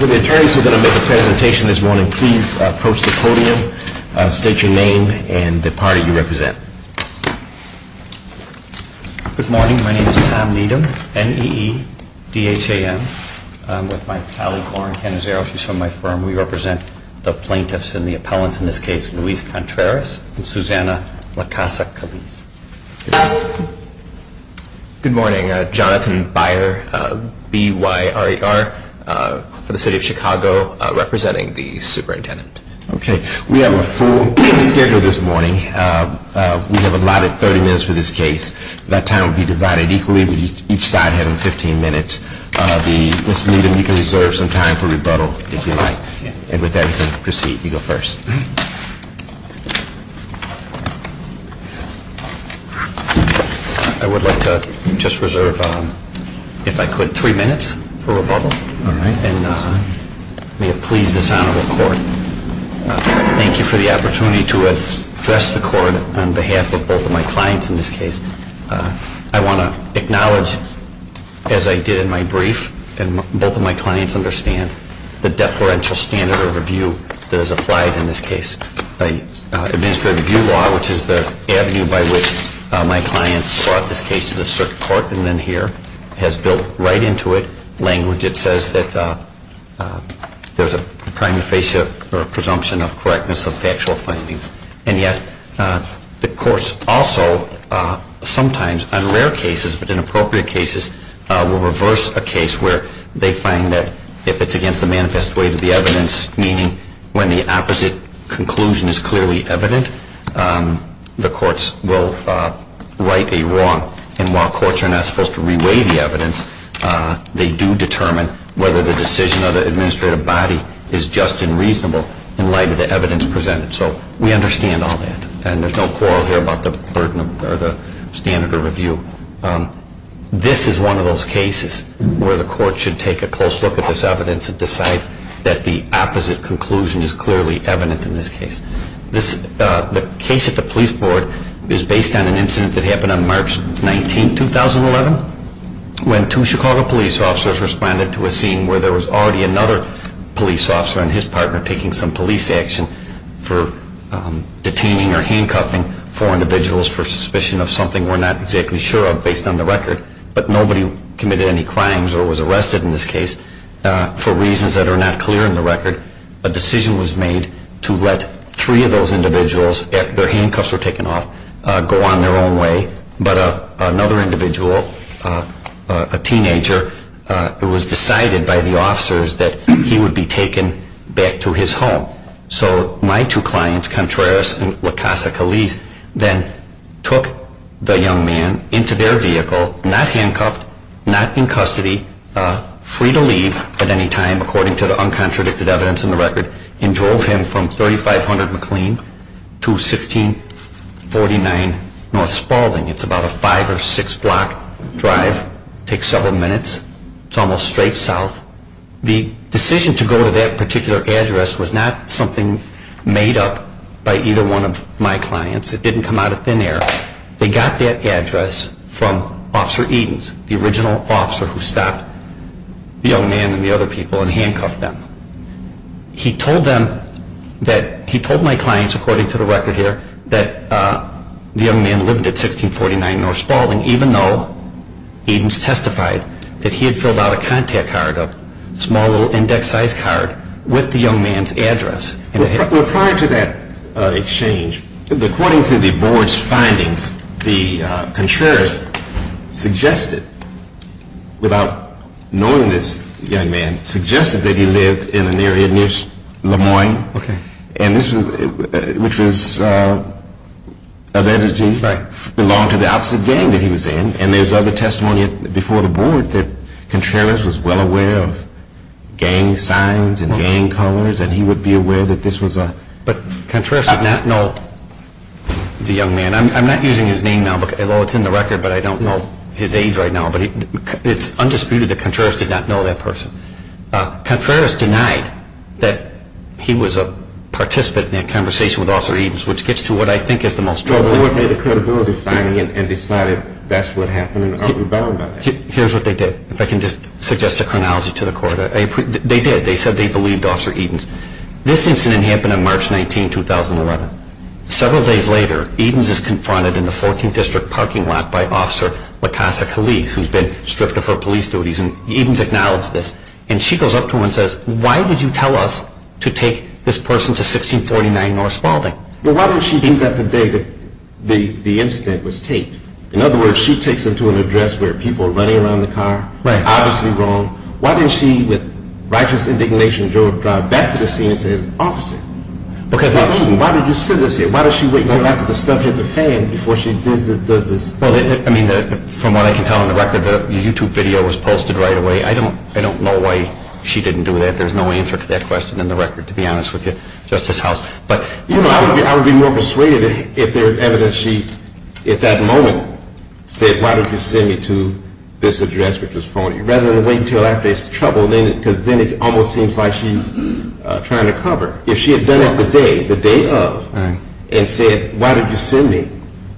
With the attorneys who are going to make a presentation this morning, please approach the podium, state your name and the party you represent. Good morning. My name is Tom Needham, N-E-E-D-H-A-M. I'm with my colleague Lauren Cannizzaro. She's from my firm. We represent the plaintiffs and the appellants in this case, Luis Contreras and Susana La Casa Caliz. Good morning. Jonathan Byer, B-Y-R-E-R, for the city of Chicago, representing the superintendent. Okay. We have a full schedule this morning. We have allotted 30 minutes for this case. That time will be divided equally, each side having 15 minutes. Mr. Needham, you can reserve some time for rebuttal if you like. And with that, you can proceed. You go first. I would like to just reserve, if I could, three minutes for rebuttal. All right. And may it please this honorable court, thank you for the opportunity to address the court on behalf of both of my clients in this case. I want to acknowledge, as I did in my brief, and both of my clients understand, the deferential standard of review that is applied in this case. Administrative review law, which is the avenue by which my clients brought this case to the circuit court and then here, has built right into it language. It says that there's a prima facie presumption of correctness of factual findings. And yet, the courts also sometimes, on rare cases, but in appropriate cases, will reverse a case where they find that if it's against the manifest way to the evidence, meaning when the opposite conclusion is clearly evident, the courts will right a wrong. And while courts are not supposed to reweigh the evidence, they do determine whether the decision of the administrative body is just and reasonable in light of the evidence presented. So we understand all that. And there's no quarrel here about the burden or the standard of review. This is one of those cases where the court should take a close look at this evidence and decide that the opposite conclusion is clearly evident in this case. The case at the police board is based on an incident that happened on March 19, 2011, when two Chicago police officers responded to a scene where there was already another police officer and his partner taking some police action for detaining or handcuffing four individuals for suspicion of something we're not exactly sure about. But nobody committed any crimes or was arrested in this case for reasons that are not clear in the record. A decision was made to let three of those individuals, their handcuffs were taken off, go on their own way. But another individual, a teenager, it was decided by the officers that he would be taken back to his home. So my two clients, Contreras and La Casa Caliz, then took the young man into their vehicle, not handcuffed, not in custody, free to leave at any time according to the uncontradicted evidence in the record, and drove him from 3500 McLean to 1649 North Spaulding. It's about a five or six block drive, takes several minutes, it's almost straight south. The decision to go to that particular address was not something made up by either one of my clients. It didn't come out of thin air. They got that address from Officer Edens, the original officer who stopped the young man and the other people and handcuffed them. He told them that, he told my clients according to the record here, that the young man lived at 1649 North Spaulding even though Edens testified that he had filled out a contact card, a small little index size card, with the young man's address. Prior to that exchange, according to the board's findings, the Contreras suggested, without knowing this young man, suggested that he lived at 1649 North Spaulding. The young man lived in an area near Le Moyne, which belonged to the opposite gang that he was in. And there's other testimony before the board that Contreras was well aware of gang signs and gang colors, and he would be aware that this was a... But Contreras did not know the young man. I'm not using his name now, although it's in the record, but I don't know his age right now. But it's undisputed that Contreras did not know that person. Contreras denied that he was a participant in that conversation with Officer Edens, which gets to what I think is the most troubling... Well, the board made a credibility finding and decided that's what happened, and aren't we bound by that? Here's what they did. If I can just suggest a chronology to the court. They did. They said they believed Officer Edens. This incident happened on March 19, 2011. Several days later, Edens is confronted in the 14th District parking lot by Officer La Casa Caliz, who's been stripped of her police duties. Edens acknowledges this, and she goes up to him and says, Why did you tell us to take this person to 1649 North Spaulding? Well, why didn't she do that the day the incident was taped? In other words, she takes him to an address where people are running around the car. Right. Obviously wrong. Why didn't she, with righteous indignation, drive back to the scene and say, Officer, why did you send us here? Why does she wait until after the stuff hit the fan before she does this? Well, I mean, from what I can tell on the record, the YouTube video was posted right away. I don't know why she didn't do that. There's no answer to that question in the record, to be honest with you, Justice House. But, you know, I would be more persuaded if there's evidence she, at that moment, said, Why did you send me to this address, which was phony? Rather than wait until after it's troubled, because then it almost seems like she's trying to cover. If she had done it the day, the day of, and said, Why did you send me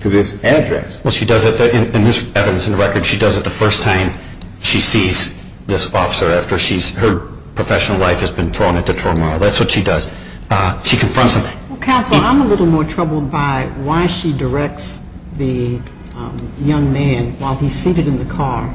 to this address? Well, she does it, and there's evidence in the record, she does it the first time she sees this officer after her professional life has been thrown into turmoil. That's what she does. She confronts him. Counsel, I'm a little more troubled by why she directs the young man while he's seated in the car,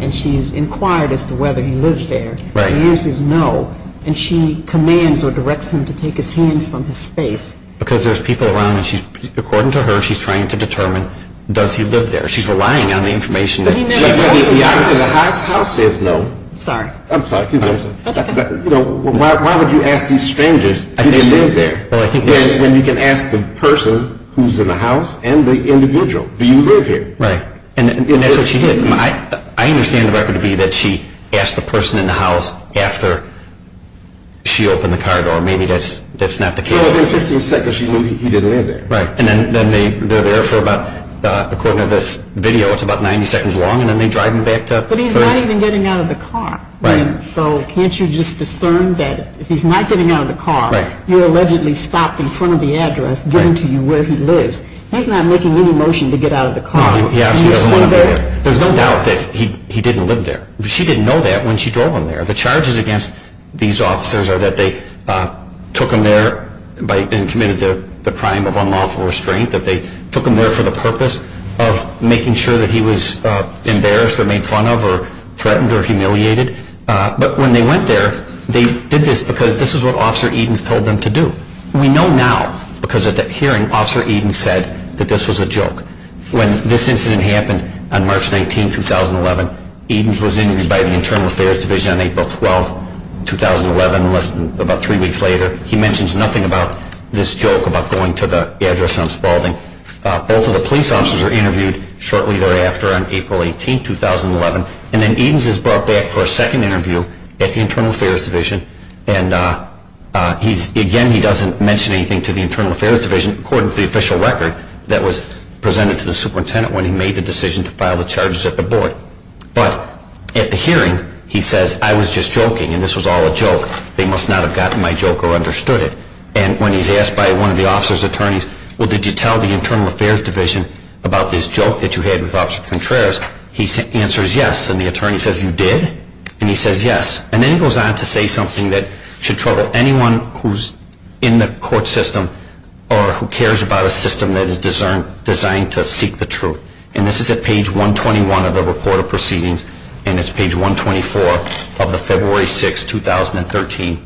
and she's inquired as to whether he lives there. The answer is no. And she commands or directs him to take his hands from his face. Because there's people around, and according to her, she's trying to determine, does he live there? She's relying on the information. The House says no. Sorry. I'm sorry. That's okay. Why would you ask these strangers if they live there, when you can ask the person who's in the house and the individual, do you live here? Right. And that's what she did. I understand the record to be that she asked the person in the house after she opened the car door. Maybe that's not the case. Well, within 15 seconds, she knew he didn't live there. Right. And then they're there for about, according to this video, it's about 90 seconds long, and then they drive him back to the house. But he's not even getting out of the car. Right. So can't you just discern that if he's not getting out of the car, you allegedly stopped in front of the address giving to you where he lives. He's not making any motion to get out of the car. He obviously doesn't want to be there. And he's still there? There's no doubt that he didn't live there. She didn't know that when she drove him there. The charges against these officers are that they took him there and committed the crime of unlawful restraint, that they took him there for the purpose of making sure that he was embarrassed or made fun of or threatened or humiliated. But when they went there, they did this because this is what Officer Edens told them to do. We know now because at that hearing, Officer Edens said that this was a joke. When this incident happened on March 19, 2011, Edens was interviewed by the Internal Affairs Division on April 12, 2011, about three weeks later. He mentions nothing about this joke about going to the address on Spaulding. Both of the police officers were interviewed shortly thereafter on April 18, 2011. And then Edens is brought back for a second interview at the Internal Affairs Division. And, again, he doesn't mention anything to the Internal Affairs Division, according to the official record that was presented to the superintendent when he made the decision to file the charges at the board. But at the hearing, he says, I was just joking, and this was all a joke. They must not have gotten my joke or understood it. And when he's asked by one of the officer's attorneys, well, did you tell the Internal Affairs Division about this joke that you had with Officer Contreras? He answers, yes. And the attorney says, you did? And he says, yes. And then he goes on to say something that should trouble anyone who's in the court system or who cares about a system that is designed to seek the truth. And this is at page 121 of the report of proceedings, and it's page 124 of the February 6, 2013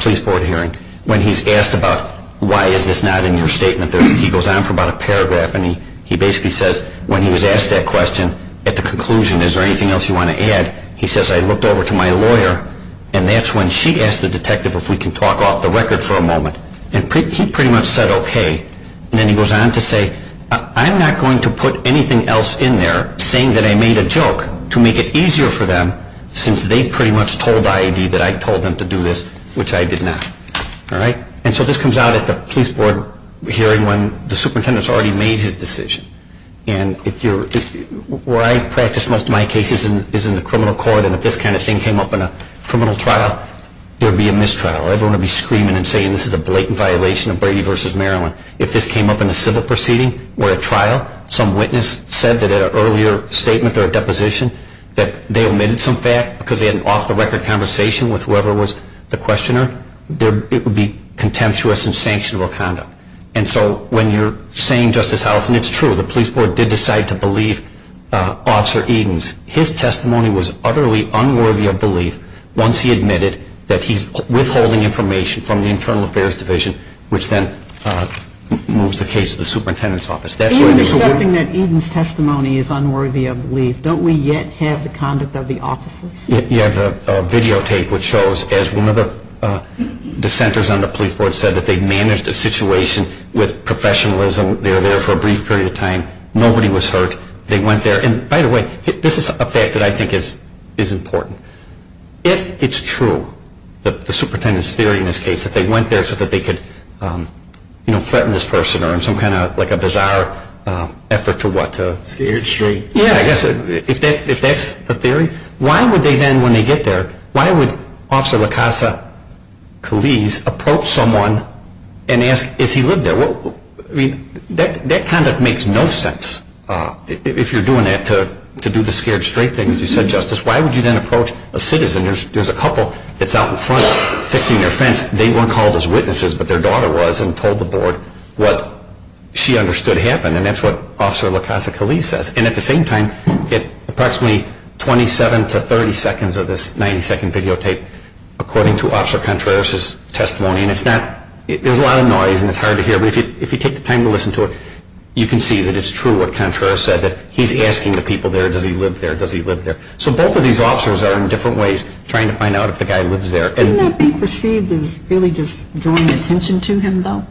police board hearing, when he's asked about why is this not in your statement. He goes on for about a paragraph, and he basically says, when he was asked that question, at the conclusion, is there anything else you want to add? He says, I looked over to my lawyer, and that's when she asked the detective if we can talk off the record for a moment. And he pretty much said, okay. And then he goes on to say, I'm not going to put anything else in there, saying that I made a joke, to make it easier for them, since they pretty much told I.A.D. that I told them to do this, which I did not. And so this comes out at the police board hearing when the superintendent's already made his decision. And where I practice most of my cases is in the criminal court, and if this kind of thing came up in a criminal trial, there would be a mistrial. Everyone would be screaming and saying this is a blatant violation of Brady v. Maryland. If this came up in a civil proceeding or a trial, some witness said that in an earlier statement or a deposition that they omitted some fact because they had an off-the-record conversation with whoever was the questioner, it would be contemptuous and sanctionable conduct. And so when you're saying, Justice Hollison, it's true. The police board did decide to believe Officer Eden's. His testimony was utterly unworthy of belief once he admitted that he's withholding information from the Internal Affairs Division, which then moves the case to the superintendent's office. Even accepting that Eden's testimony is unworthy of belief, don't we yet have the conduct of the officers? You have a videotape which shows as one of the dissenters on the police board said that they managed the situation with professionalism. They were there for a brief period of time. Nobody was hurt. They went there. And by the way, this is a fact that I think is important. If it's true, the superintendent's theory in this case, that they went there so that they could threaten this person or in some kind of bizarre effort to what? Scared straight. Yeah, I guess if that's the theory, why would they then when they get there, why would Officer LaCasse-Culise approach someone and ask if he lived there? That kind of makes no sense if you're doing that to do the scared straight thing. As you said, Justice, why would you then approach a citizen? There's a couple that's out in front fixing their fence. They weren't called as witnesses, but their daughter was and told the board what she understood happened. And that's what Officer LaCasse-Culise says. And at the same time, at approximately 27 to 30 seconds of this 90-second videotape, according to Officer Contreras' testimony, and there's a lot of noise and it's hard to hear, but if you take the time to listen to it, you can see that it's true what Contreras said, that he's asking the people there, does he live there, does he live there. So both of these officers are in different ways trying to find out if the guy lives there. Isn't that being perceived as really just drawing attention to him, though?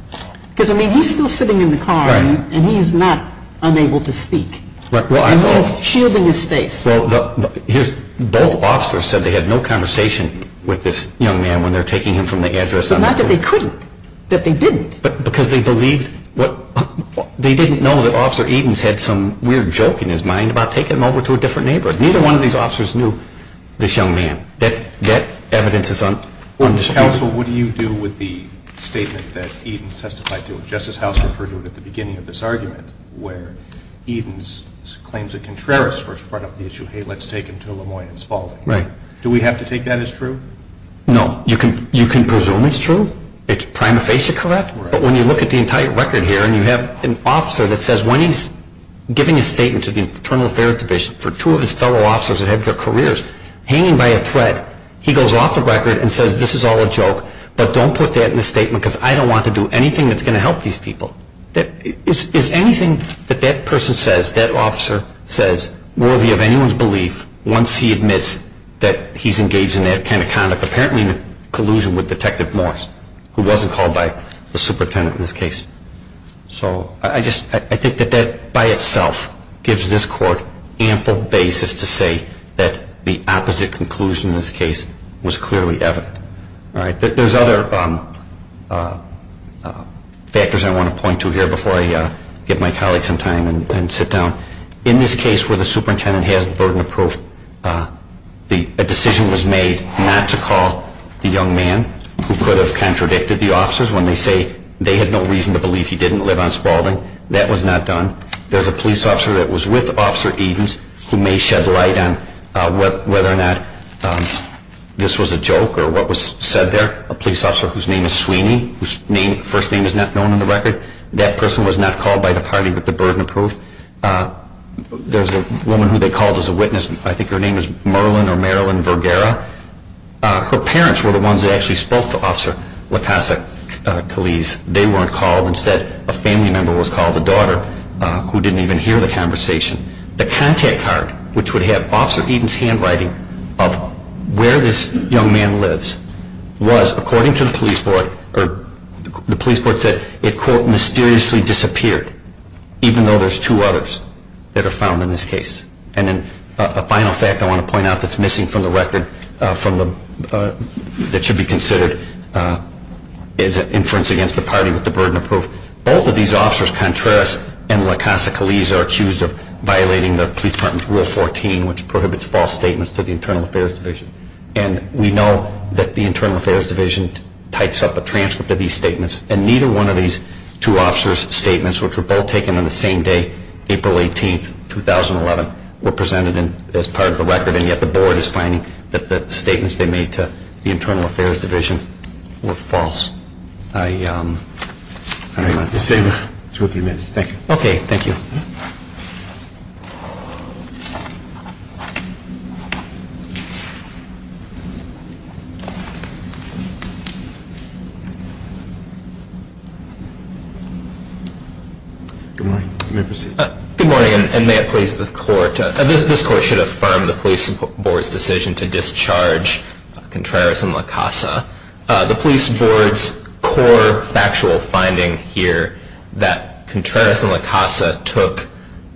Because, I mean, he's still sitting in the car and he's not unable to speak. He's shielding his face. Well, both officers said they had no conversation with this young man when they're taking him from the address. So not that they couldn't, that they didn't. Because they didn't know that Officer Edens had some weird joke in his mind about taking him over to a different neighbor. Neither one of these officers knew this young man. That evidence is undisputed. Counsel, what do you do with the statement that Edens testified to? Justice House referred to it at the beginning of this argument, where Edens claims that Contreras first brought up the issue, hey, let's take him to Lemoyne and Spalding. Do we have to take that as true? No. You can presume it's true, it's prima facie correct, but when you look at the entire record here and you have an officer that says, when he's giving a statement to the Fraternal Affairs Division, for two of his fellow officers that have their careers hanging by a thread, he goes off the record and says, this is all a joke, but don't put that in the statement because I don't want to do anything that's going to help these people. Is anything that that person says, that officer says, worthy of anyone's belief once he admits that he's engaged in that kind of conduct? Apparently in collusion with Detective Morris, who wasn't called by the superintendent in this case. So I think that that by itself gives this court ample basis to say that the opposite conclusion in this case was clearly evident. There's other factors I want to point to here before I give my colleagues some time and sit down. In this case where the superintendent has the burden of proof, a decision was made not to call the young man who could have contradicted the officers when they say they had no reason to believe he didn't live on Spaulding. That was not done. There's a police officer that was with Officer Edens who may shed light on whether or not this was a joke or what was said there. A police officer whose name is Sweeney, whose first name is not known on the record. That person was not called by the party with the burden of proof. There's a woman who they called as a witness. I think her name is Merlin or Marilyn Vergara. Her parents were the ones that actually spoke to Officer LaCasse-Cullese. They weren't called. Instead, a family member was called, a daughter, who didn't even hear the conversation. The contact card which would have Officer Edens' handwriting of where this young man lives was, according to the police board, the police board said it, quote, mysteriously disappeared, even though there's two others that are found in this case. A final fact I want to point out that's missing from the record that should be considered is an inference against the party with the burden of proof. Both of these officers, Contreras and LaCasse-Cullese, are accused of violating the police department's Rule 14, which prohibits false statements to the Internal Affairs Division. We know that the Internal Affairs Division types up a transcript of these statements, and neither one of these two officers' statements, which were both taken on the same day, April 18, 2011, were presented as part of the record. And yet the board is finding that the statements they made to the Internal Affairs Division were false. I'm going to save two or three minutes. Thank you. Okay. Thank you. Good morning. You may proceed. Good morning, and may it please the Court. This Court should affirm the police board's decision to discharge Contreras and LaCasse. The police board's core factual finding here, that Contreras and LaCasse took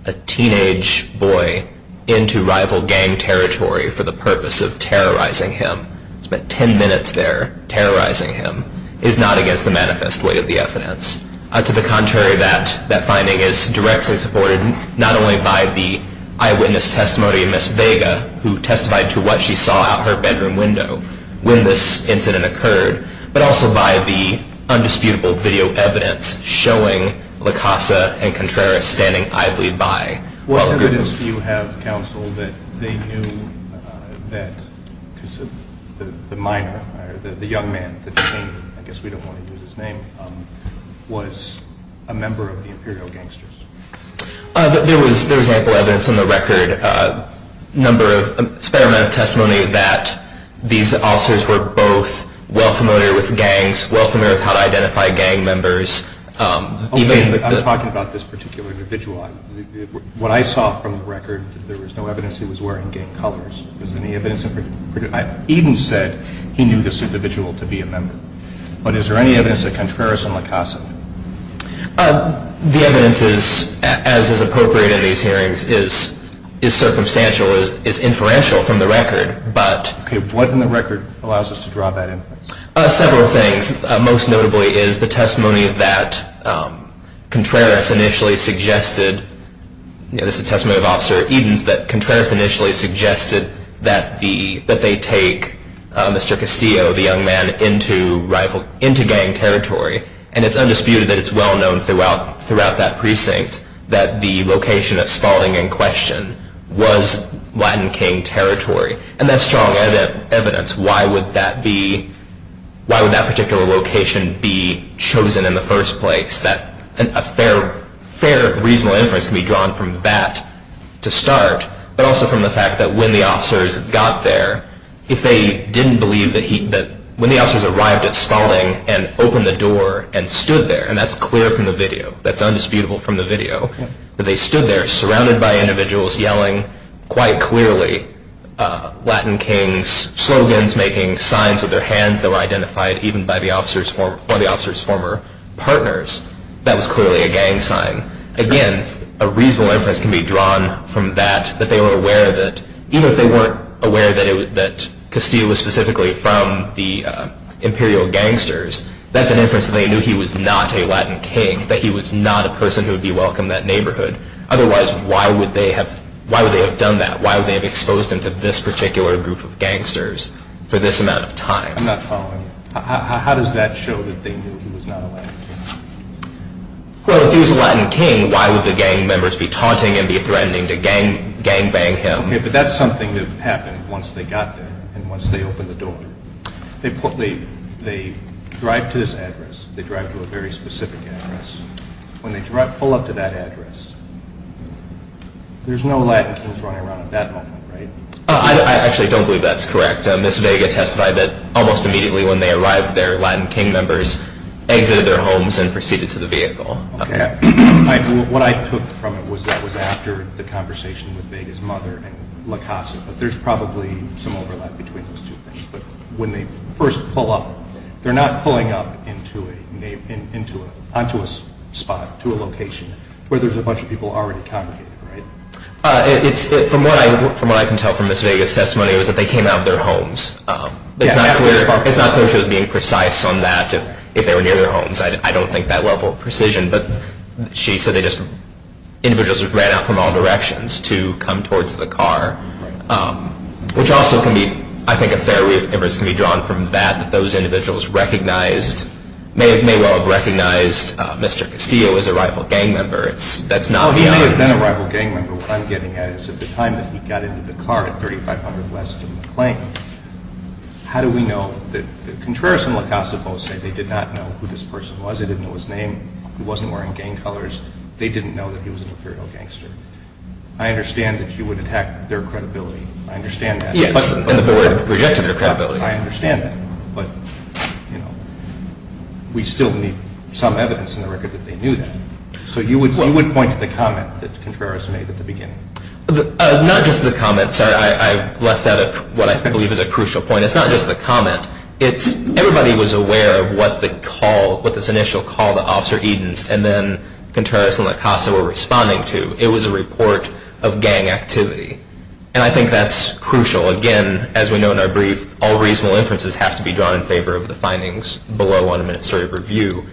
a teenage boy into rival gang territory for the purpose of terrorizing him, spent ten minutes there terrorizing him, is not against the manifesto. It is not a display of the evidence. To the contrary, that finding is directly supported not only by the eyewitness testimony of Ms. Vega, who testified to what she saw out her bedroom window when this incident occurred, but also by the undisputable video evidence showing LaCasse and Contreras standing idly by. What evidence do you have, Counsel, that they knew that the minor, the young man, I guess we don't want to use his name, was a member of the Imperial Gangsters? There was ample evidence on the record, a fair amount of testimony, that these officers were both well familiar with gangs, well familiar with how to identify gang members. Okay, but I'm talking about this particular individual. What I saw from the record, there was no evidence he was wearing gang colors. Is there any evidence in particular? Eden said he knew this individual to be a member. But is there any evidence that Contreras and LaCasse did? The evidence is, as is appropriate in these hearings, is circumstantial, is inferential from the record, but... Okay, what in the record allows us to draw that inference? Several things. Most notably is the testimony that Contreras initially suggested, this is the testimony of Officer Edens, that Contreras initially suggested that they take Mr. Castillo, the young man, into gang territory. And it's undisputed that it's well known throughout that precinct that the location that's falling in question was Latin King territory. And that's strong evidence. Why would that be... Why would that particular location be chosen in the first place? A fair, reasonable inference can be drawn from that to start, but also from the fact that when the officers got there, if they didn't believe that he... When the officers arrived at Spalding and opened the door and stood there, and that's clear from the video, that's undisputable from the video, that they stood there surrounded by individuals yelling quite clearly Latin King's slogans, making signs with their hands that were identified even by the officers' former partners. That was clearly a gang sign. Again, a reasonable inference can be drawn from that, that they were aware that, even if they weren't aware that Castillo was specifically from the imperial gangsters, that's an inference that they knew he was not a Latin King, that he was not a person who would be welcome in that neighborhood. Otherwise, why would they have done that? Why would they have exposed him to this particular group of gangsters for this amount of time? I'm not following you. How does that show that they knew he was not a Latin King? Well, if he was a Latin King, why would the gang members be taunting and be threatening to gang-bang him? Okay, but that's something that happened once they got there and once they opened the door. They drive to this address. They drive to a very specific address. When they pull up to that address, there's no Latin Kings running around at that moment, right? I actually don't believe that's correct. Ms. Vega testified that almost immediately when they arrived there, Latin King members exited their homes and proceeded to the vehicle. Okay. What I took from it was that it was after the conversation with Vega's mother in La Casa, but there's probably some overlap between those two things. But when they first pull up, they're not pulling up onto a spot, to a location, where there's a bunch of people already congregated, right? From what I can tell from Ms. Vega's testimony, it was that they came out of their homes. It's not clear she was being precise on that, if they were near their homes. I don't think that level of precision. But she said that individuals ran out from all directions to come towards the car. Right. Which also can be, I think, a fair way to be drawn from that, that those individuals may well have recognized Mr. Castillo as a rival gang member. No, he may have been a rival gang member. What I'm getting at is at the time that he got into the car at 3500 West and McLean, how do we know that Contreras and La Casa both said they did not know who this person was. They didn't know his name. He wasn't wearing gang colors. They didn't know that he was an imperial gangster. I understand that you would attack their credibility. I understand that. Yes, and the board rejected their credibility. I understand that. But, you know, we still need some evidence in the record that they knew that. So you would point to the comment that Contreras made at the beginning. Not just the comment. Sorry, I left out what I believe is a crucial point. It's not just the comment. Everybody was aware of what this initial call to Officer Edens and then Contreras and La Casa were responding to. It was a report of gang activity. And I think that's crucial. Again, as we know in our brief, all reasonable inferences have to be drawn in favor of the findings below on administrative review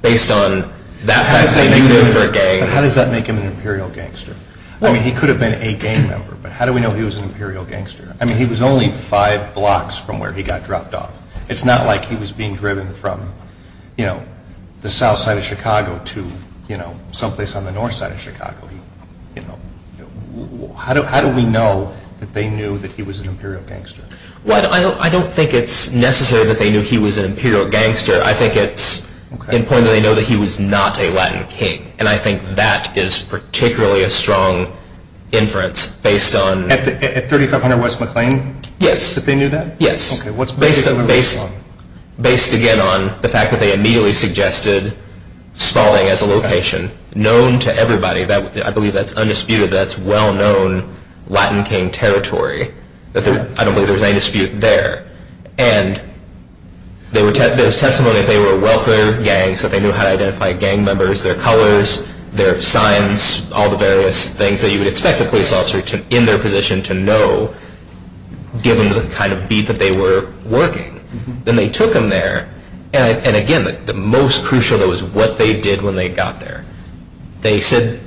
based on that fact that they knew they were a gang. How does that make him an imperial gangster? I mean, he could have been a gang member, but how do we know he was an imperial gangster? I mean, he was only five blocks from where he got dropped off. It's not like he was being driven from, you know, the south side of Chicago to, you know, someplace on the north side of Chicago. How do we know that they knew that he was an imperial gangster? Well, I don't think it's necessary that they knew he was an imperial gangster. I think it's important that they know that he was not a Latin king. And I think that is particularly a strong inference based on... At 3500 West McLean? Yes. That they knew that? Yes. Based, again, on the fact that they immediately suggested Spalding as a location known to everybody. I believe that's undisputed. That's well-known Latin king territory. I don't believe there's any dispute there. And there's testimony that they were a welfare gang, so they knew how to identify gang members, their colors, their signs, all the various things that you would expect a police officer in their position to know given the kind of beat that they were working. Then they took him there. And, again, the most crucial was what they did when they got there. They said,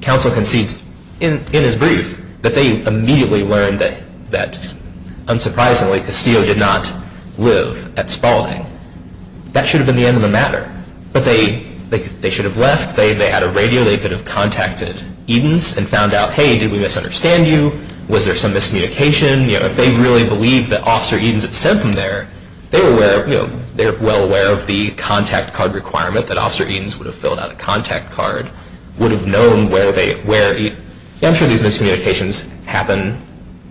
counsel concedes in his brief, that they immediately learned that, unsurprisingly, Castillo did not live at Spalding. That should have been the end of the matter. But they should have left. They had a radio. They could have contacted Edens and found out, hey, did we misunderstand you? Was there some miscommunication? If they really believed that Officer Edens had sent them there, they were well aware of the contact card requirement that Officer Edens would have filled out a contact card, would have known where they were. I'm sure these miscommunications happen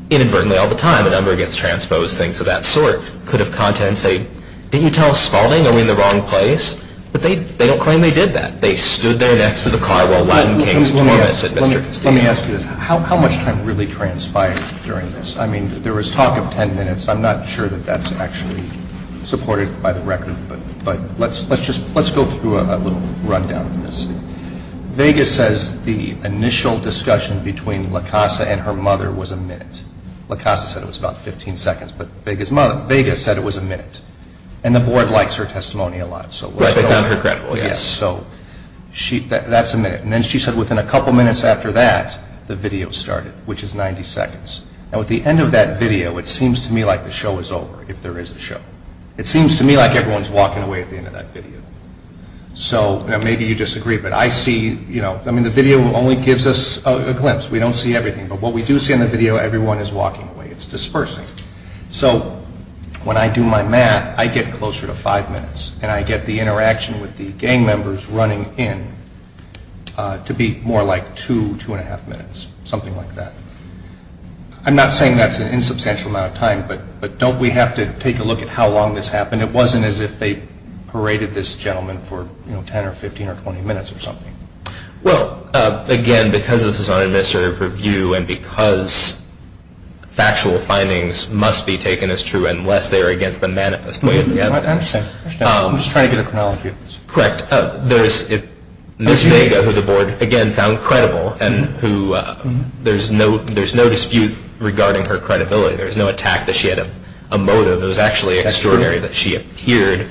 inadvertently all the time. A number gets transposed, things of that sort. Could have contacted and said, didn't you tell us Spalding? Are we in the wrong place? But they don't claim they did that. They stood there next to the car while Latin kings tormented Mr. Castillo. Let me ask you this. How much time really transpired during this? I mean, there was talk of ten minutes. I'm not sure that that's actually supported by the record. But let's go through a little rundown of this. Vegas says the initial discussion between La Casa and her mother was a minute. La Casa said it was about 15 seconds. But Vegas said it was a minute. And the board likes her testimony a lot. So they found her credible, yes. So that's a minute. And then she said within a couple minutes after that, the video started, which is 90 seconds. Now, at the end of that video, it seems to me like the show is over, if there is a show. It seems to me like everyone is walking away at the end of that video. So maybe you disagree. But I see, you know, I mean, the video only gives us a glimpse. We don't see everything. But what we do see in the video, everyone is walking away. It's dispersing. So when I do my math, I get closer to five minutes. And I get the interaction with the gang members running in to be more like two, two and a half minutes, something like that. I'm not saying that's an insubstantial amount of time. But don't we have to take a look at how long this happened? It wasn't as if they paraded this gentleman for, you know, 10 or 15 or 20 minutes or something. Well, again, because this is an administrative review and because factual findings must be taken as true unless they are against the manifest. I understand. I'm just trying to get a chronology of this. Correct. There is Ms. Vega, who the board, again, found credible, and who there is no dispute regarding her credibility. There is no attack that she had a motive. It was actually extraordinary that she appeared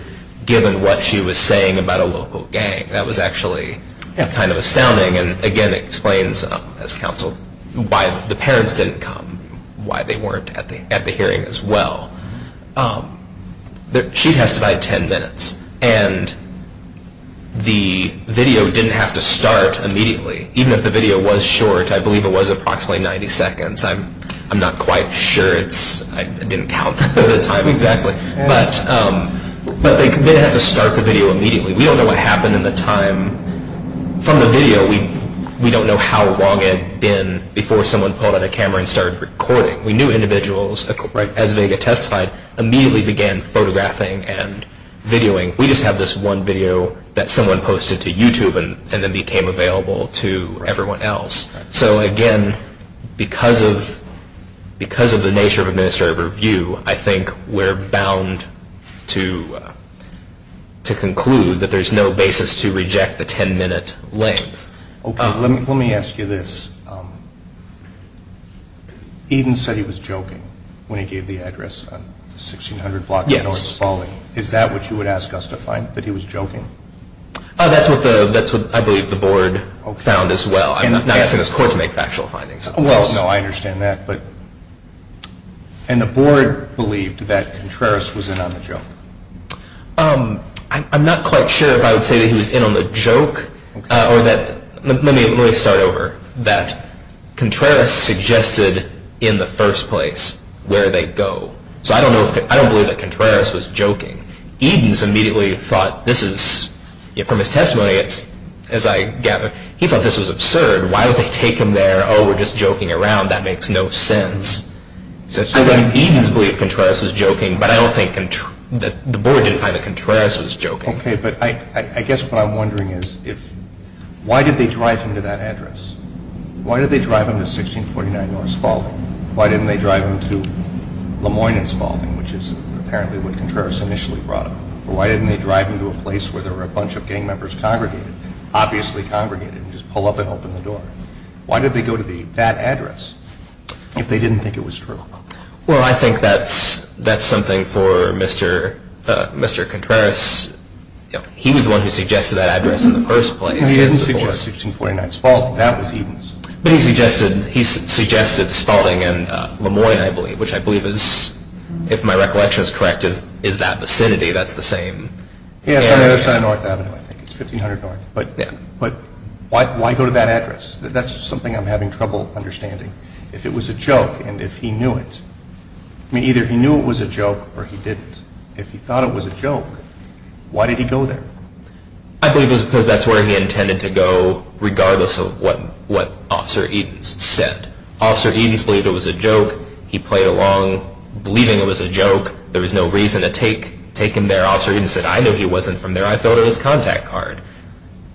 given what she was saying about a local gang. That was actually kind of astounding. And, again, it explains, as counsel, why the parents didn't come, and why they weren't at the hearing as well. She testified 10 minutes, and the video didn't have to start immediately. Even if the video was short, I believe it was approximately 90 seconds. I'm not quite sure. I didn't count the time exactly. But they didn't have to start the video immediately. We don't know what happened in the time. From the video, we don't know how long it had been before someone pulled out a camera and started recording. We knew individuals, as Vega testified, immediately began photographing and videoing. We just have this one video that someone posted to YouTube and then became available to everyone else. So, again, because of the nature of administrative review, I think we're bound to conclude that there's no basis to reject the 10-minute length. Okay, let me ask you this. Eden said he was joking when he gave the address on 1600 Blocks North of Spalding. Yes. Is that what you would ask us to find, that he was joking? That's what I believe the board found as well. I'm not asking this court to make factual findings. Well, no, I understand that. And the board believed that Contreras was in on the joke. I'm not quite sure if I would say that he was in on the joke. Let me really start over. That Contreras suggested in the first place where they go. So I don't believe that Contreras was joking. Eden immediately thought, from his testimony, as I gather, he thought this was absurd. Why would they take him there? Oh, we're just joking around. That makes no sense. I think Eden's belief Contreras was joking, but I don't think the board didn't find that Contreras was joking. Okay, but I guess what I'm wondering is why did they drive him to that address? Why did they drive him to 1649 North Spalding? Why didn't they drive him to Le Moyne in Spalding, which is apparently what Contreras initially brought him? Or why didn't they drive him to a place where there were a bunch of gang members congregated, obviously congregated, and just pull up and open the door? Why did they go to that address? If they didn't think it was true. Well, I think that's something for Mr. Contreras. He was the one who suggested that address in the first place. No, he didn't suggest 1649 Spalding. That was Eden's. But he suggested Spalding and Le Moyne, I believe, which I believe is, if my recollection is correct, is that vicinity. That's the same. Yeah, it's on North Avenue, I think. It's 1500 North. But why go to that address? That's something I'm having trouble understanding. If it was a joke and if he knew it. I mean, either he knew it was a joke or he didn't. If he thought it was a joke, why did he go there? I believe it was because that's where he intended to go regardless of what Officer Edens said. Officer Edens believed it was a joke. He played along believing it was a joke. There was no reason to take him there. Officer Edens said, I know he wasn't from there. I thought it was a contact card.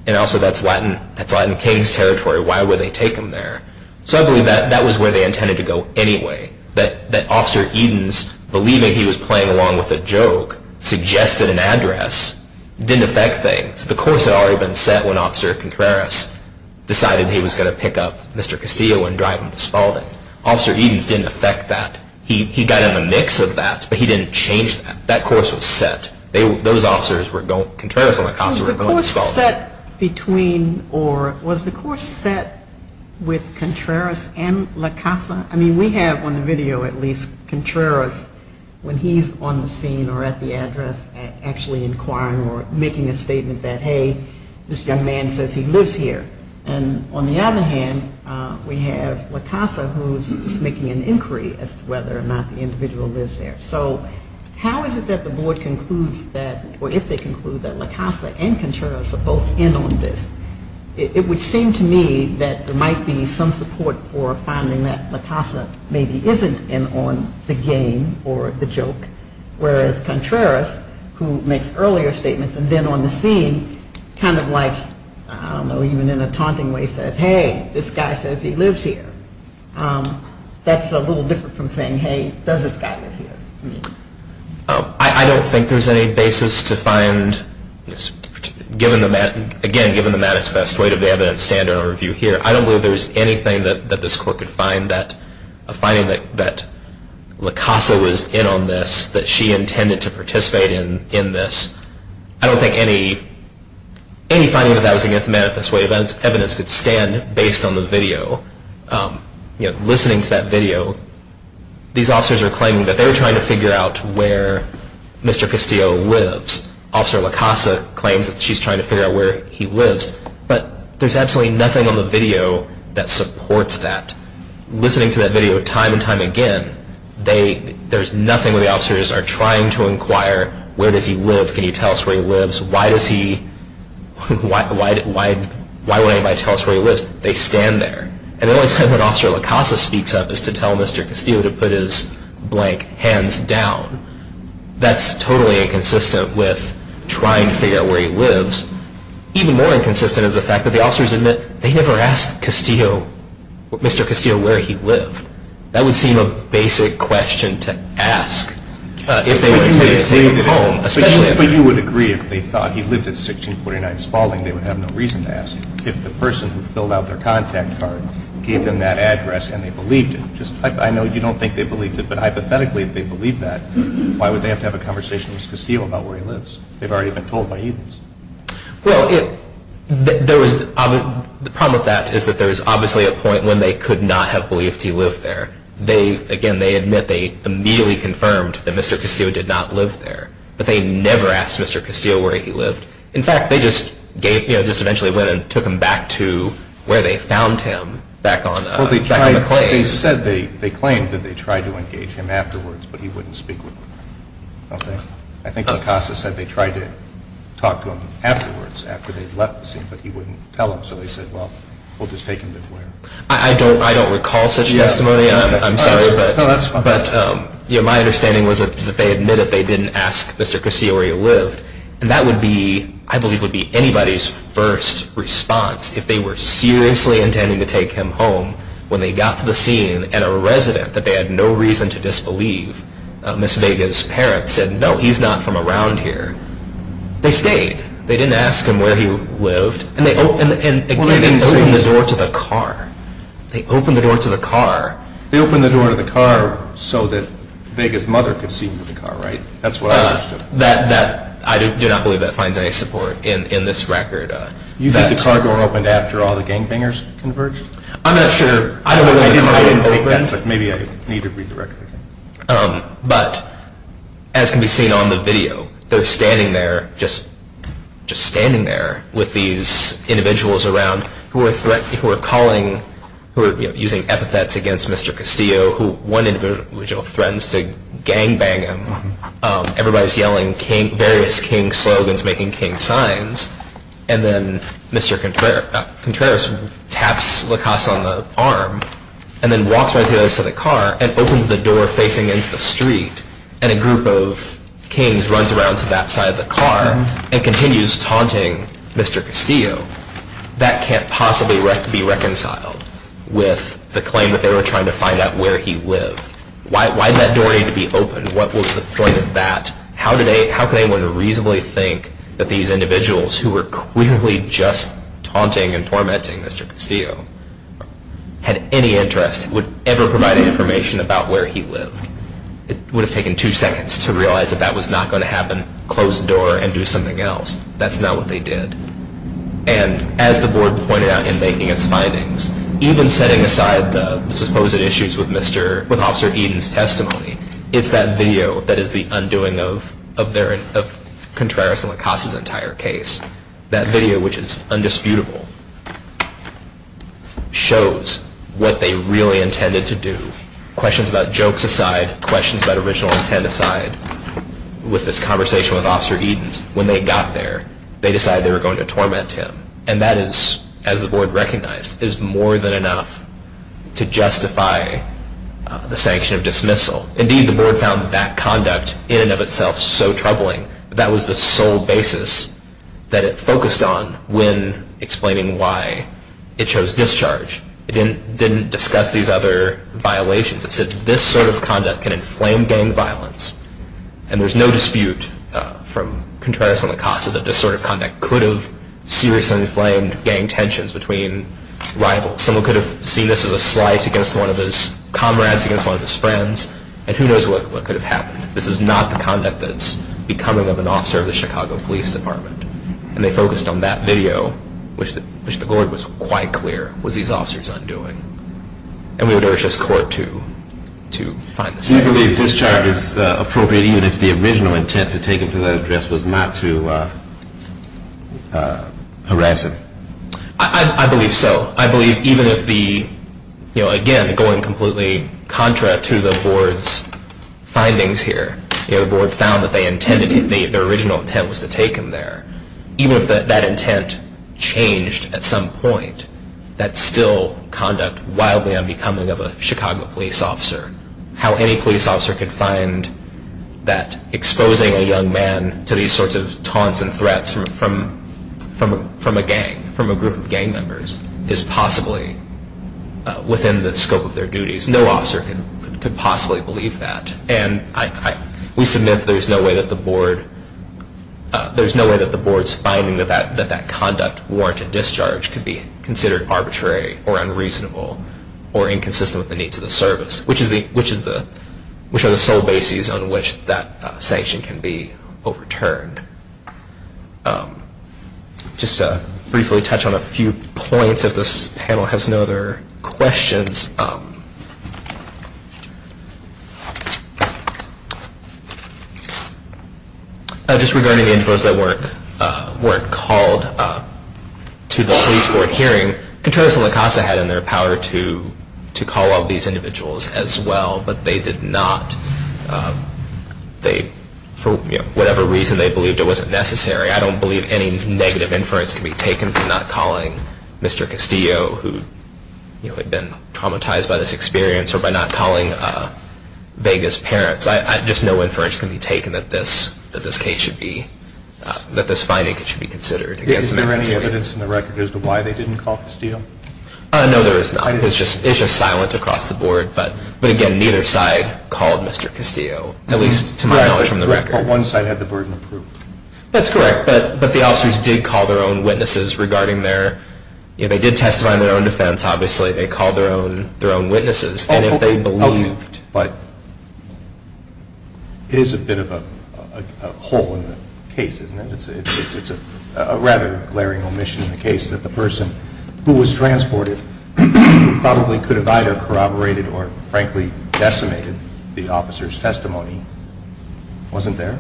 And also that's Latin King's territory. Why would they take him there? So I believe that was where they intended to go anyway. That Officer Edens, believing he was playing along with a joke, suggested an address didn't affect things. The course had already been set when Officer Contreras decided he was going to pick up Mr. Castillo and drive him to Spalding. Officer Edens didn't affect that. He got in the mix of that, but he didn't change that. That course was set. Contreras and La Casa were going to Spalding. Was the course set with Contreras and La Casa? I mean, we have on the video at least Contreras when he's on the scene or at the address actually inquiring or making a statement that, hey, this young man says he lives here. And on the other hand, we have La Casa who's making an inquiry as to whether or not the individual lives there. So how is it that the board concludes that or if they conclude that La Casa and Contreras are both in on this? It would seem to me that there might be some support for finding that La Casa maybe isn't in on the game or the joke, whereas Contreras, who makes earlier statements and then on the scene kind of like, I don't know, even in a taunting way says, hey, this guy says he lives here. That's a little different from saying, hey, does this guy live here? I don't think there's any basis to find, again, given the manifest way that the evidence stand in our review here, I don't believe there's anything that this court could find that a finding that La Casa was in on this, that she intended to participate in this. I don't think any finding that that was against the manifest way of evidence could stand based on the video. Listening to that video, these officers are claiming that they're trying to figure out where Mr. Castillo lives. Officer La Casa claims that she's trying to figure out where he lives. But there's absolutely nothing on the video that supports that. Listening to that video time and time again, there's nothing where the officers are trying to inquire, where does he live, can you tell us where he lives, why would anybody tell us where he lives? They stand there. And the only time that Officer La Casa speaks up is to tell Mr. Castillo to put his blank hands down. That's totally inconsistent with trying to figure out where he lives. Even more inconsistent is the fact that the officers admit they never asked Mr. Castillo where he lived. That would seem a basic question to ask. But you would agree if they thought he lived at 1649 Spalding, they would have no reason to ask. If the person who filled out their contact card gave them that address and they believed it. I know you don't think they believed it, but hypothetically if they believed that, why would they have to have a conversation with Mr. Castillo about where he lives? They've already been told by Edens. Well, the problem with that is that there is obviously a point when they could not have believed he lived there. Again, they admit they immediately confirmed that Mr. Castillo did not live there. But they never asked Mr. Castillo where he lived. In fact, they just eventually went and took him back to where they found him, back on the claim. They claimed that they tried to engage him afterwards, but he wouldn't speak with them. I think Picasso said they tried to talk to him afterwards, after they'd left the scene, but he wouldn't tell them. So they said, well, we'll just take him to where. I don't recall such testimony. I'm sorry. No, that's fine. But my understanding was that they admitted they didn't ask Mr. Castillo where he lived. And that would be, I believe, would be anybody's first response, if they were seriously intending to take him home when they got to the scene and a resident that they had no reason to disbelieve, Ms. Vega's parents, said, no, he's not from around here. They stayed. They didn't ask him where he lived. And they opened the door to the car. They opened the door to the car. They opened the door to the car so that Vega's mother could see him in the car, right? That's what I understood. I do not believe that finds any support in this record. You think the car door opened after all the gangbangers converged? I'm not sure. I don't know why the car didn't open. Maybe I need to read the record. But as can be seen on the video, they're standing there, just standing there, with these individuals around who are calling, who are using epithets against Mr. Castillo, who one individual threatens to gangbang him. Everybody's yelling various King slogans, making King signs. And then Mr. Contreras taps La Casa on the arm and then walks right to the other side of the car and opens the door facing into the street. And a group of kings runs around to that side of the car and continues taunting Mr. Castillo. That can't possibly be reconciled with the claim that they were trying to find out where he lived. Why did that door need to be opened? What was the point of that? How could anyone reasonably think that these individuals, who were clearly just taunting and tormenting Mr. Castillo, had any interest in ever providing information about where he lived? It would have taken two seconds to realize that that was not going to happen, close the door, and do something else. That's not what they did. And as the board pointed out in making its findings, even setting aside the supposed issues with Officer Eden's testimony, it's that video that is the undoing of Contreras and La Casa's entire case. That video, which is undisputable, shows what they really intended to do. Questions about jokes aside, questions about original intent aside, with this conversation with Officer Eden's, when they got there, they decided they were going to torment him. And that is, as the board recognized, is more than enough to justify the sanction of dismissal. Indeed, the board found that conduct in and of itself so troubling. That was the sole basis that it focused on when explaining why it chose discharge. It didn't discuss these other violations. It said this sort of conduct can inflame gang violence. And there's no dispute from Contreras and La Casa that this sort of conduct could have seriously inflamed gang tensions between rivals. Someone could have seen this as a slight against one of his comrades, against one of his friends, and who knows what could have happened. This is not the conduct that's becoming of an officer of the Chicago Police Department. And they focused on that video, which the board was quite clear was these officers undoing. And we would urge this court to find the second. Do you believe discharge is appropriate, even if the original intent to take him to that address was not to harass him? I believe so. I believe even if the, again, going completely contra to the board's findings here. The board found that they intended, their original intent was to take him there. Even if that intent changed at some point, that's still conduct wildly unbecoming of a Chicago police officer. How any police officer could find that exposing a young man to these sorts of taunts and threats from a gang, from a group of gang members, is possibly within the scope of their duties. No officer could possibly believe that. And we submit that there's no way that the board's finding that that conduct warranted discharge could be considered arbitrary or unreasonable or inconsistent with the needs of the service, which are the sole bases on which that sanction can be overturned. Just to briefly touch on a few points, if this panel has no other questions. Just regarding the individuals that weren't called to the police board hearing, Contreras and La Casa had in their power to call all these individuals as well, but they did not. For whatever reason, they believed it wasn't necessary. I don't believe any negative inference can be taken for not calling Mr. Castillo, who had been traumatized by this experience, or by not calling Vega's parents. Just no inference can be taken that this case should be, that this finding should be considered. Is there any evidence in the record as to why they didn't call Castillo? No, there is not. It's just silent across the board. But again, neither side called Mr. Castillo, at least to my knowledge from the record. One side had the burden of proof. That's correct. But the officers did call their own witnesses regarding their, they did testify on their own defense, obviously. They called their own witnesses. But it is a bit of a hole in the case, isn't it? It's a rather glaring omission in the case that the person who was transported probably could have either corroborated or frankly decimated the officer's testimony. Wasn't there?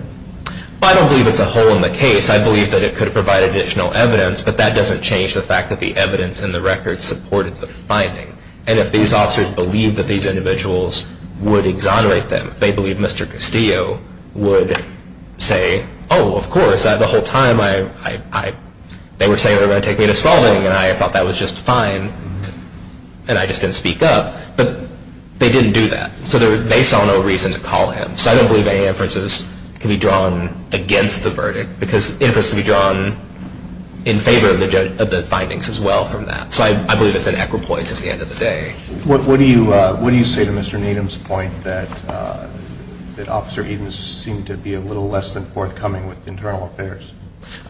I don't believe it's a hole in the case. I believe that it could have provided additional evidence, but that doesn't change the fact that the evidence in the record supported the finding. And if these officers believed that these individuals would exonerate them, if they believed Mr. Castillo would say, oh, of course, the whole time they were saying they were going to take me to swallowing and I thought that was just fine and I just didn't speak up. But they didn't do that. So they saw no reason to call him. So I don't believe any inferences can be drawn against the verdict because inferences can be drawn in favor of the findings as well from that. So I believe it's an equipoint at the end of the day. What do you say to Mr. Needham's point that Officer Edens seemed to be a little less than forthcoming with internal affairs?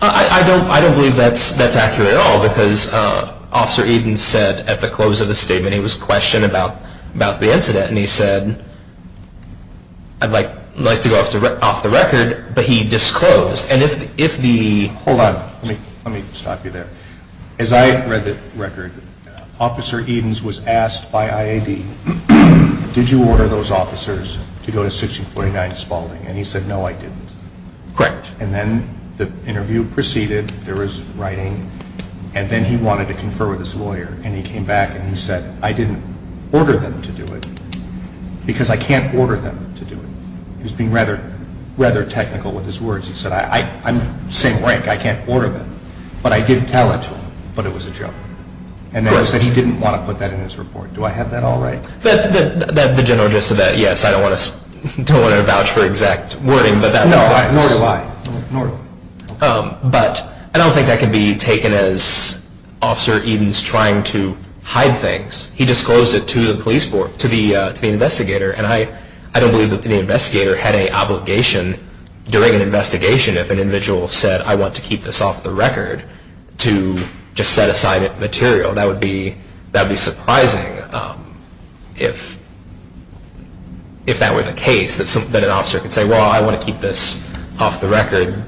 I don't believe that's accurate at all because Officer Edens said at the close of the statement he was questioned about the incident and he said, I'd like to go off the record, but he disclosed. Hold on. Let me stop you there. As I read the record, Officer Edens was asked by IAD, did you order those officers to go to 1649 Spalding? And he said, no, I didn't. Correct. And then the interview proceeded. There was writing and then he wanted to confer with his lawyer and he came back and he said, I didn't order them to do it because I can't order them to do it. He was being rather technical with his words. He said, I'm saying rank. I can't order them. But I did tell it to him, but it was a joke. And then he said he didn't want to put that in his report. Do I have that all right? The general gist of that, yes, I don't want to vouch for exact wording. Nor do I. But I don't think that can be taken as Officer Edens trying to hide things. He disclosed it to the investigator and I don't believe that the investigator had an obligation during an investigation if an individual said, I want to keep this off the record, to just set aside material. That would be surprising if that were the case, that an officer could say, well, I want to keep this off the record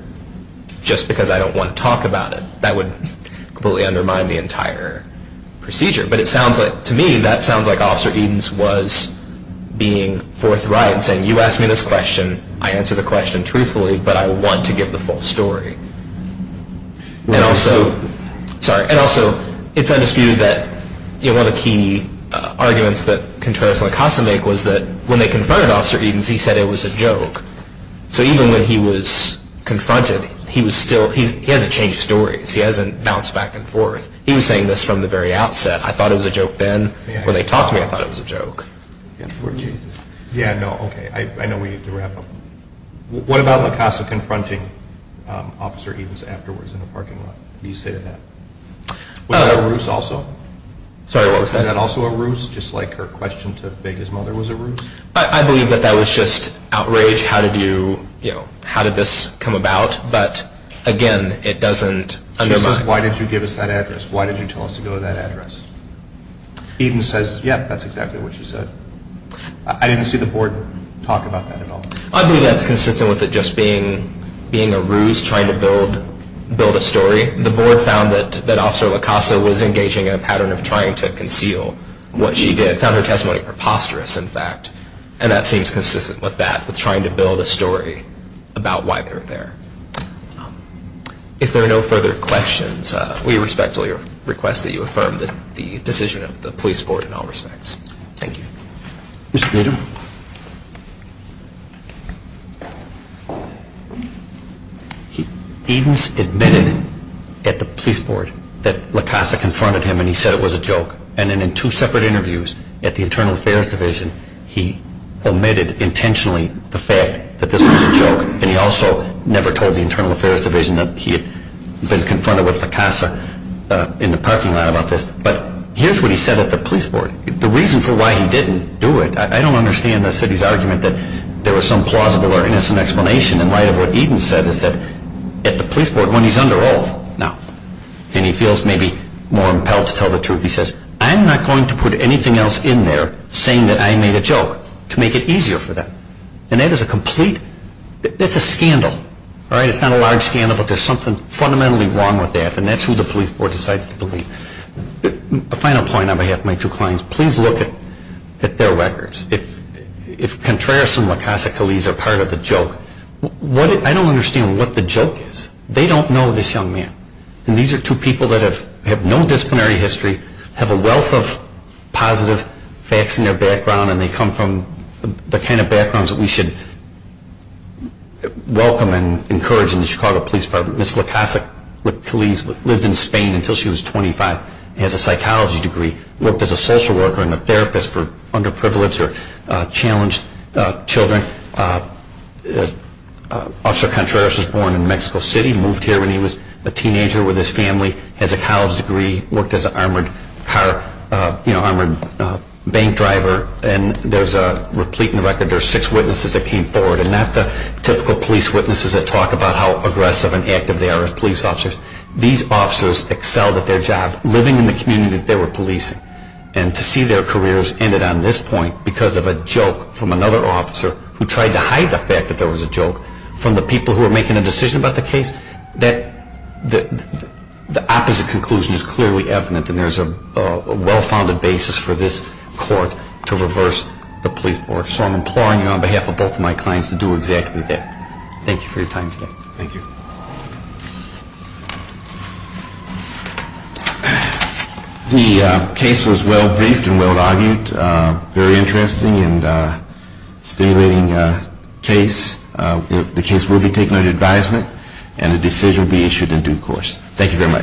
just because I don't want to talk about it. That would completely undermine the entire procedure. But to me, that sounds like Officer Edens was being forthright and saying, you asked me this question, I answered the question truthfully, but I want to give the full story. And also, it's undisputed that one of the key arguments that Contreras and LaCosta make was that when they confronted Officer Edens, he said it was a joke. So even when he was confronted, he hasn't changed stories. He hasn't bounced back and forth. He was saying this from the very outset. I thought it was a joke then. When they talked to me, I thought it was a joke. Yeah, no, okay. I know we need to wrap up. What about LaCosta confronting Officer Edens afterwards in the parking lot? What do you say to that? Was that a ruse also? Sorry, what was that? Was that also a ruse, just like her question to beg his mother was a ruse? I believe that that was just outrage. How did this come about? But again, it doesn't undermine. Why did you tell us to go to that address? Edens says, yeah, that's exactly what she said. I didn't see the board talk about that at all. I believe that's consistent with it just being a ruse, trying to build a story. The board found that Officer LaCosta was engaging in a pattern of trying to conceal what she did, found her testimony preposterous, in fact, and that seems consistent with that, with trying to build a story about why they were there. If there are no further questions, we respect all your requests that you affirm the decision of the police board in all respects. Thank you. Mr. Bader? Edens admitted at the police board that LaCosta confronted him and he said it was a joke. And then in two separate interviews at the Internal Affairs Division, and he also never told the Internal Affairs Division that he had been confronted with LaCosta in the parking lot about this. But here's what he said at the police board. The reason for why he didn't do it, I don't understand the city's argument that there was some plausible or innocent explanation in light of what Edens said is that at the police board when he's under oath now, and he feels maybe more impelled to tell the truth, he says, I'm not going to put anything else in there saying that I made a joke to make it easier for them. And that is a complete, that's a scandal. It's not a large scandal but there's something fundamentally wrong with that and that's who the police board decided to believe. A final point on behalf of my two clients, please look at their records. If Contreras and LaCosta-Coliz are part of the joke, I don't understand what the joke is. They don't know this young man. And these are two people that have no disciplinary history, have a wealth of positive facts in their background and they come from the kind of backgrounds that we should welcome and encourage in the Chicago Police Department. Ms. LaCosta-Coliz lived in Spain until she was 25, has a psychology degree, worked as a social worker and a therapist for underprivileged or challenged children. Officer Contreras was born in Mexico City, moved here when he was a teenager with his family, has a college degree, worked as an armored car, armored bank driver. And there's a replete in the record, there's six witnesses that came forward and not the typical police witnesses that talk about how aggressive and active they are as police officers. These officers excelled at their job, living in the community that they were policing. And to see their careers ended on this point because of a joke from another officer who tried to hide the fact that there was a joke from the people who were making a decision about the case, that the opposite conclusion is clearly evident and there's a well-founded basis for this court to reverse the police board. So I'm imploring you on behalf of both of my clients to do exactly that. Thank you for your time today. Thank you. The case was well briefed and well argued, very interesting and stimulating case. The case will be taken under advisement and a decision will be issued in due course. Thank you very much.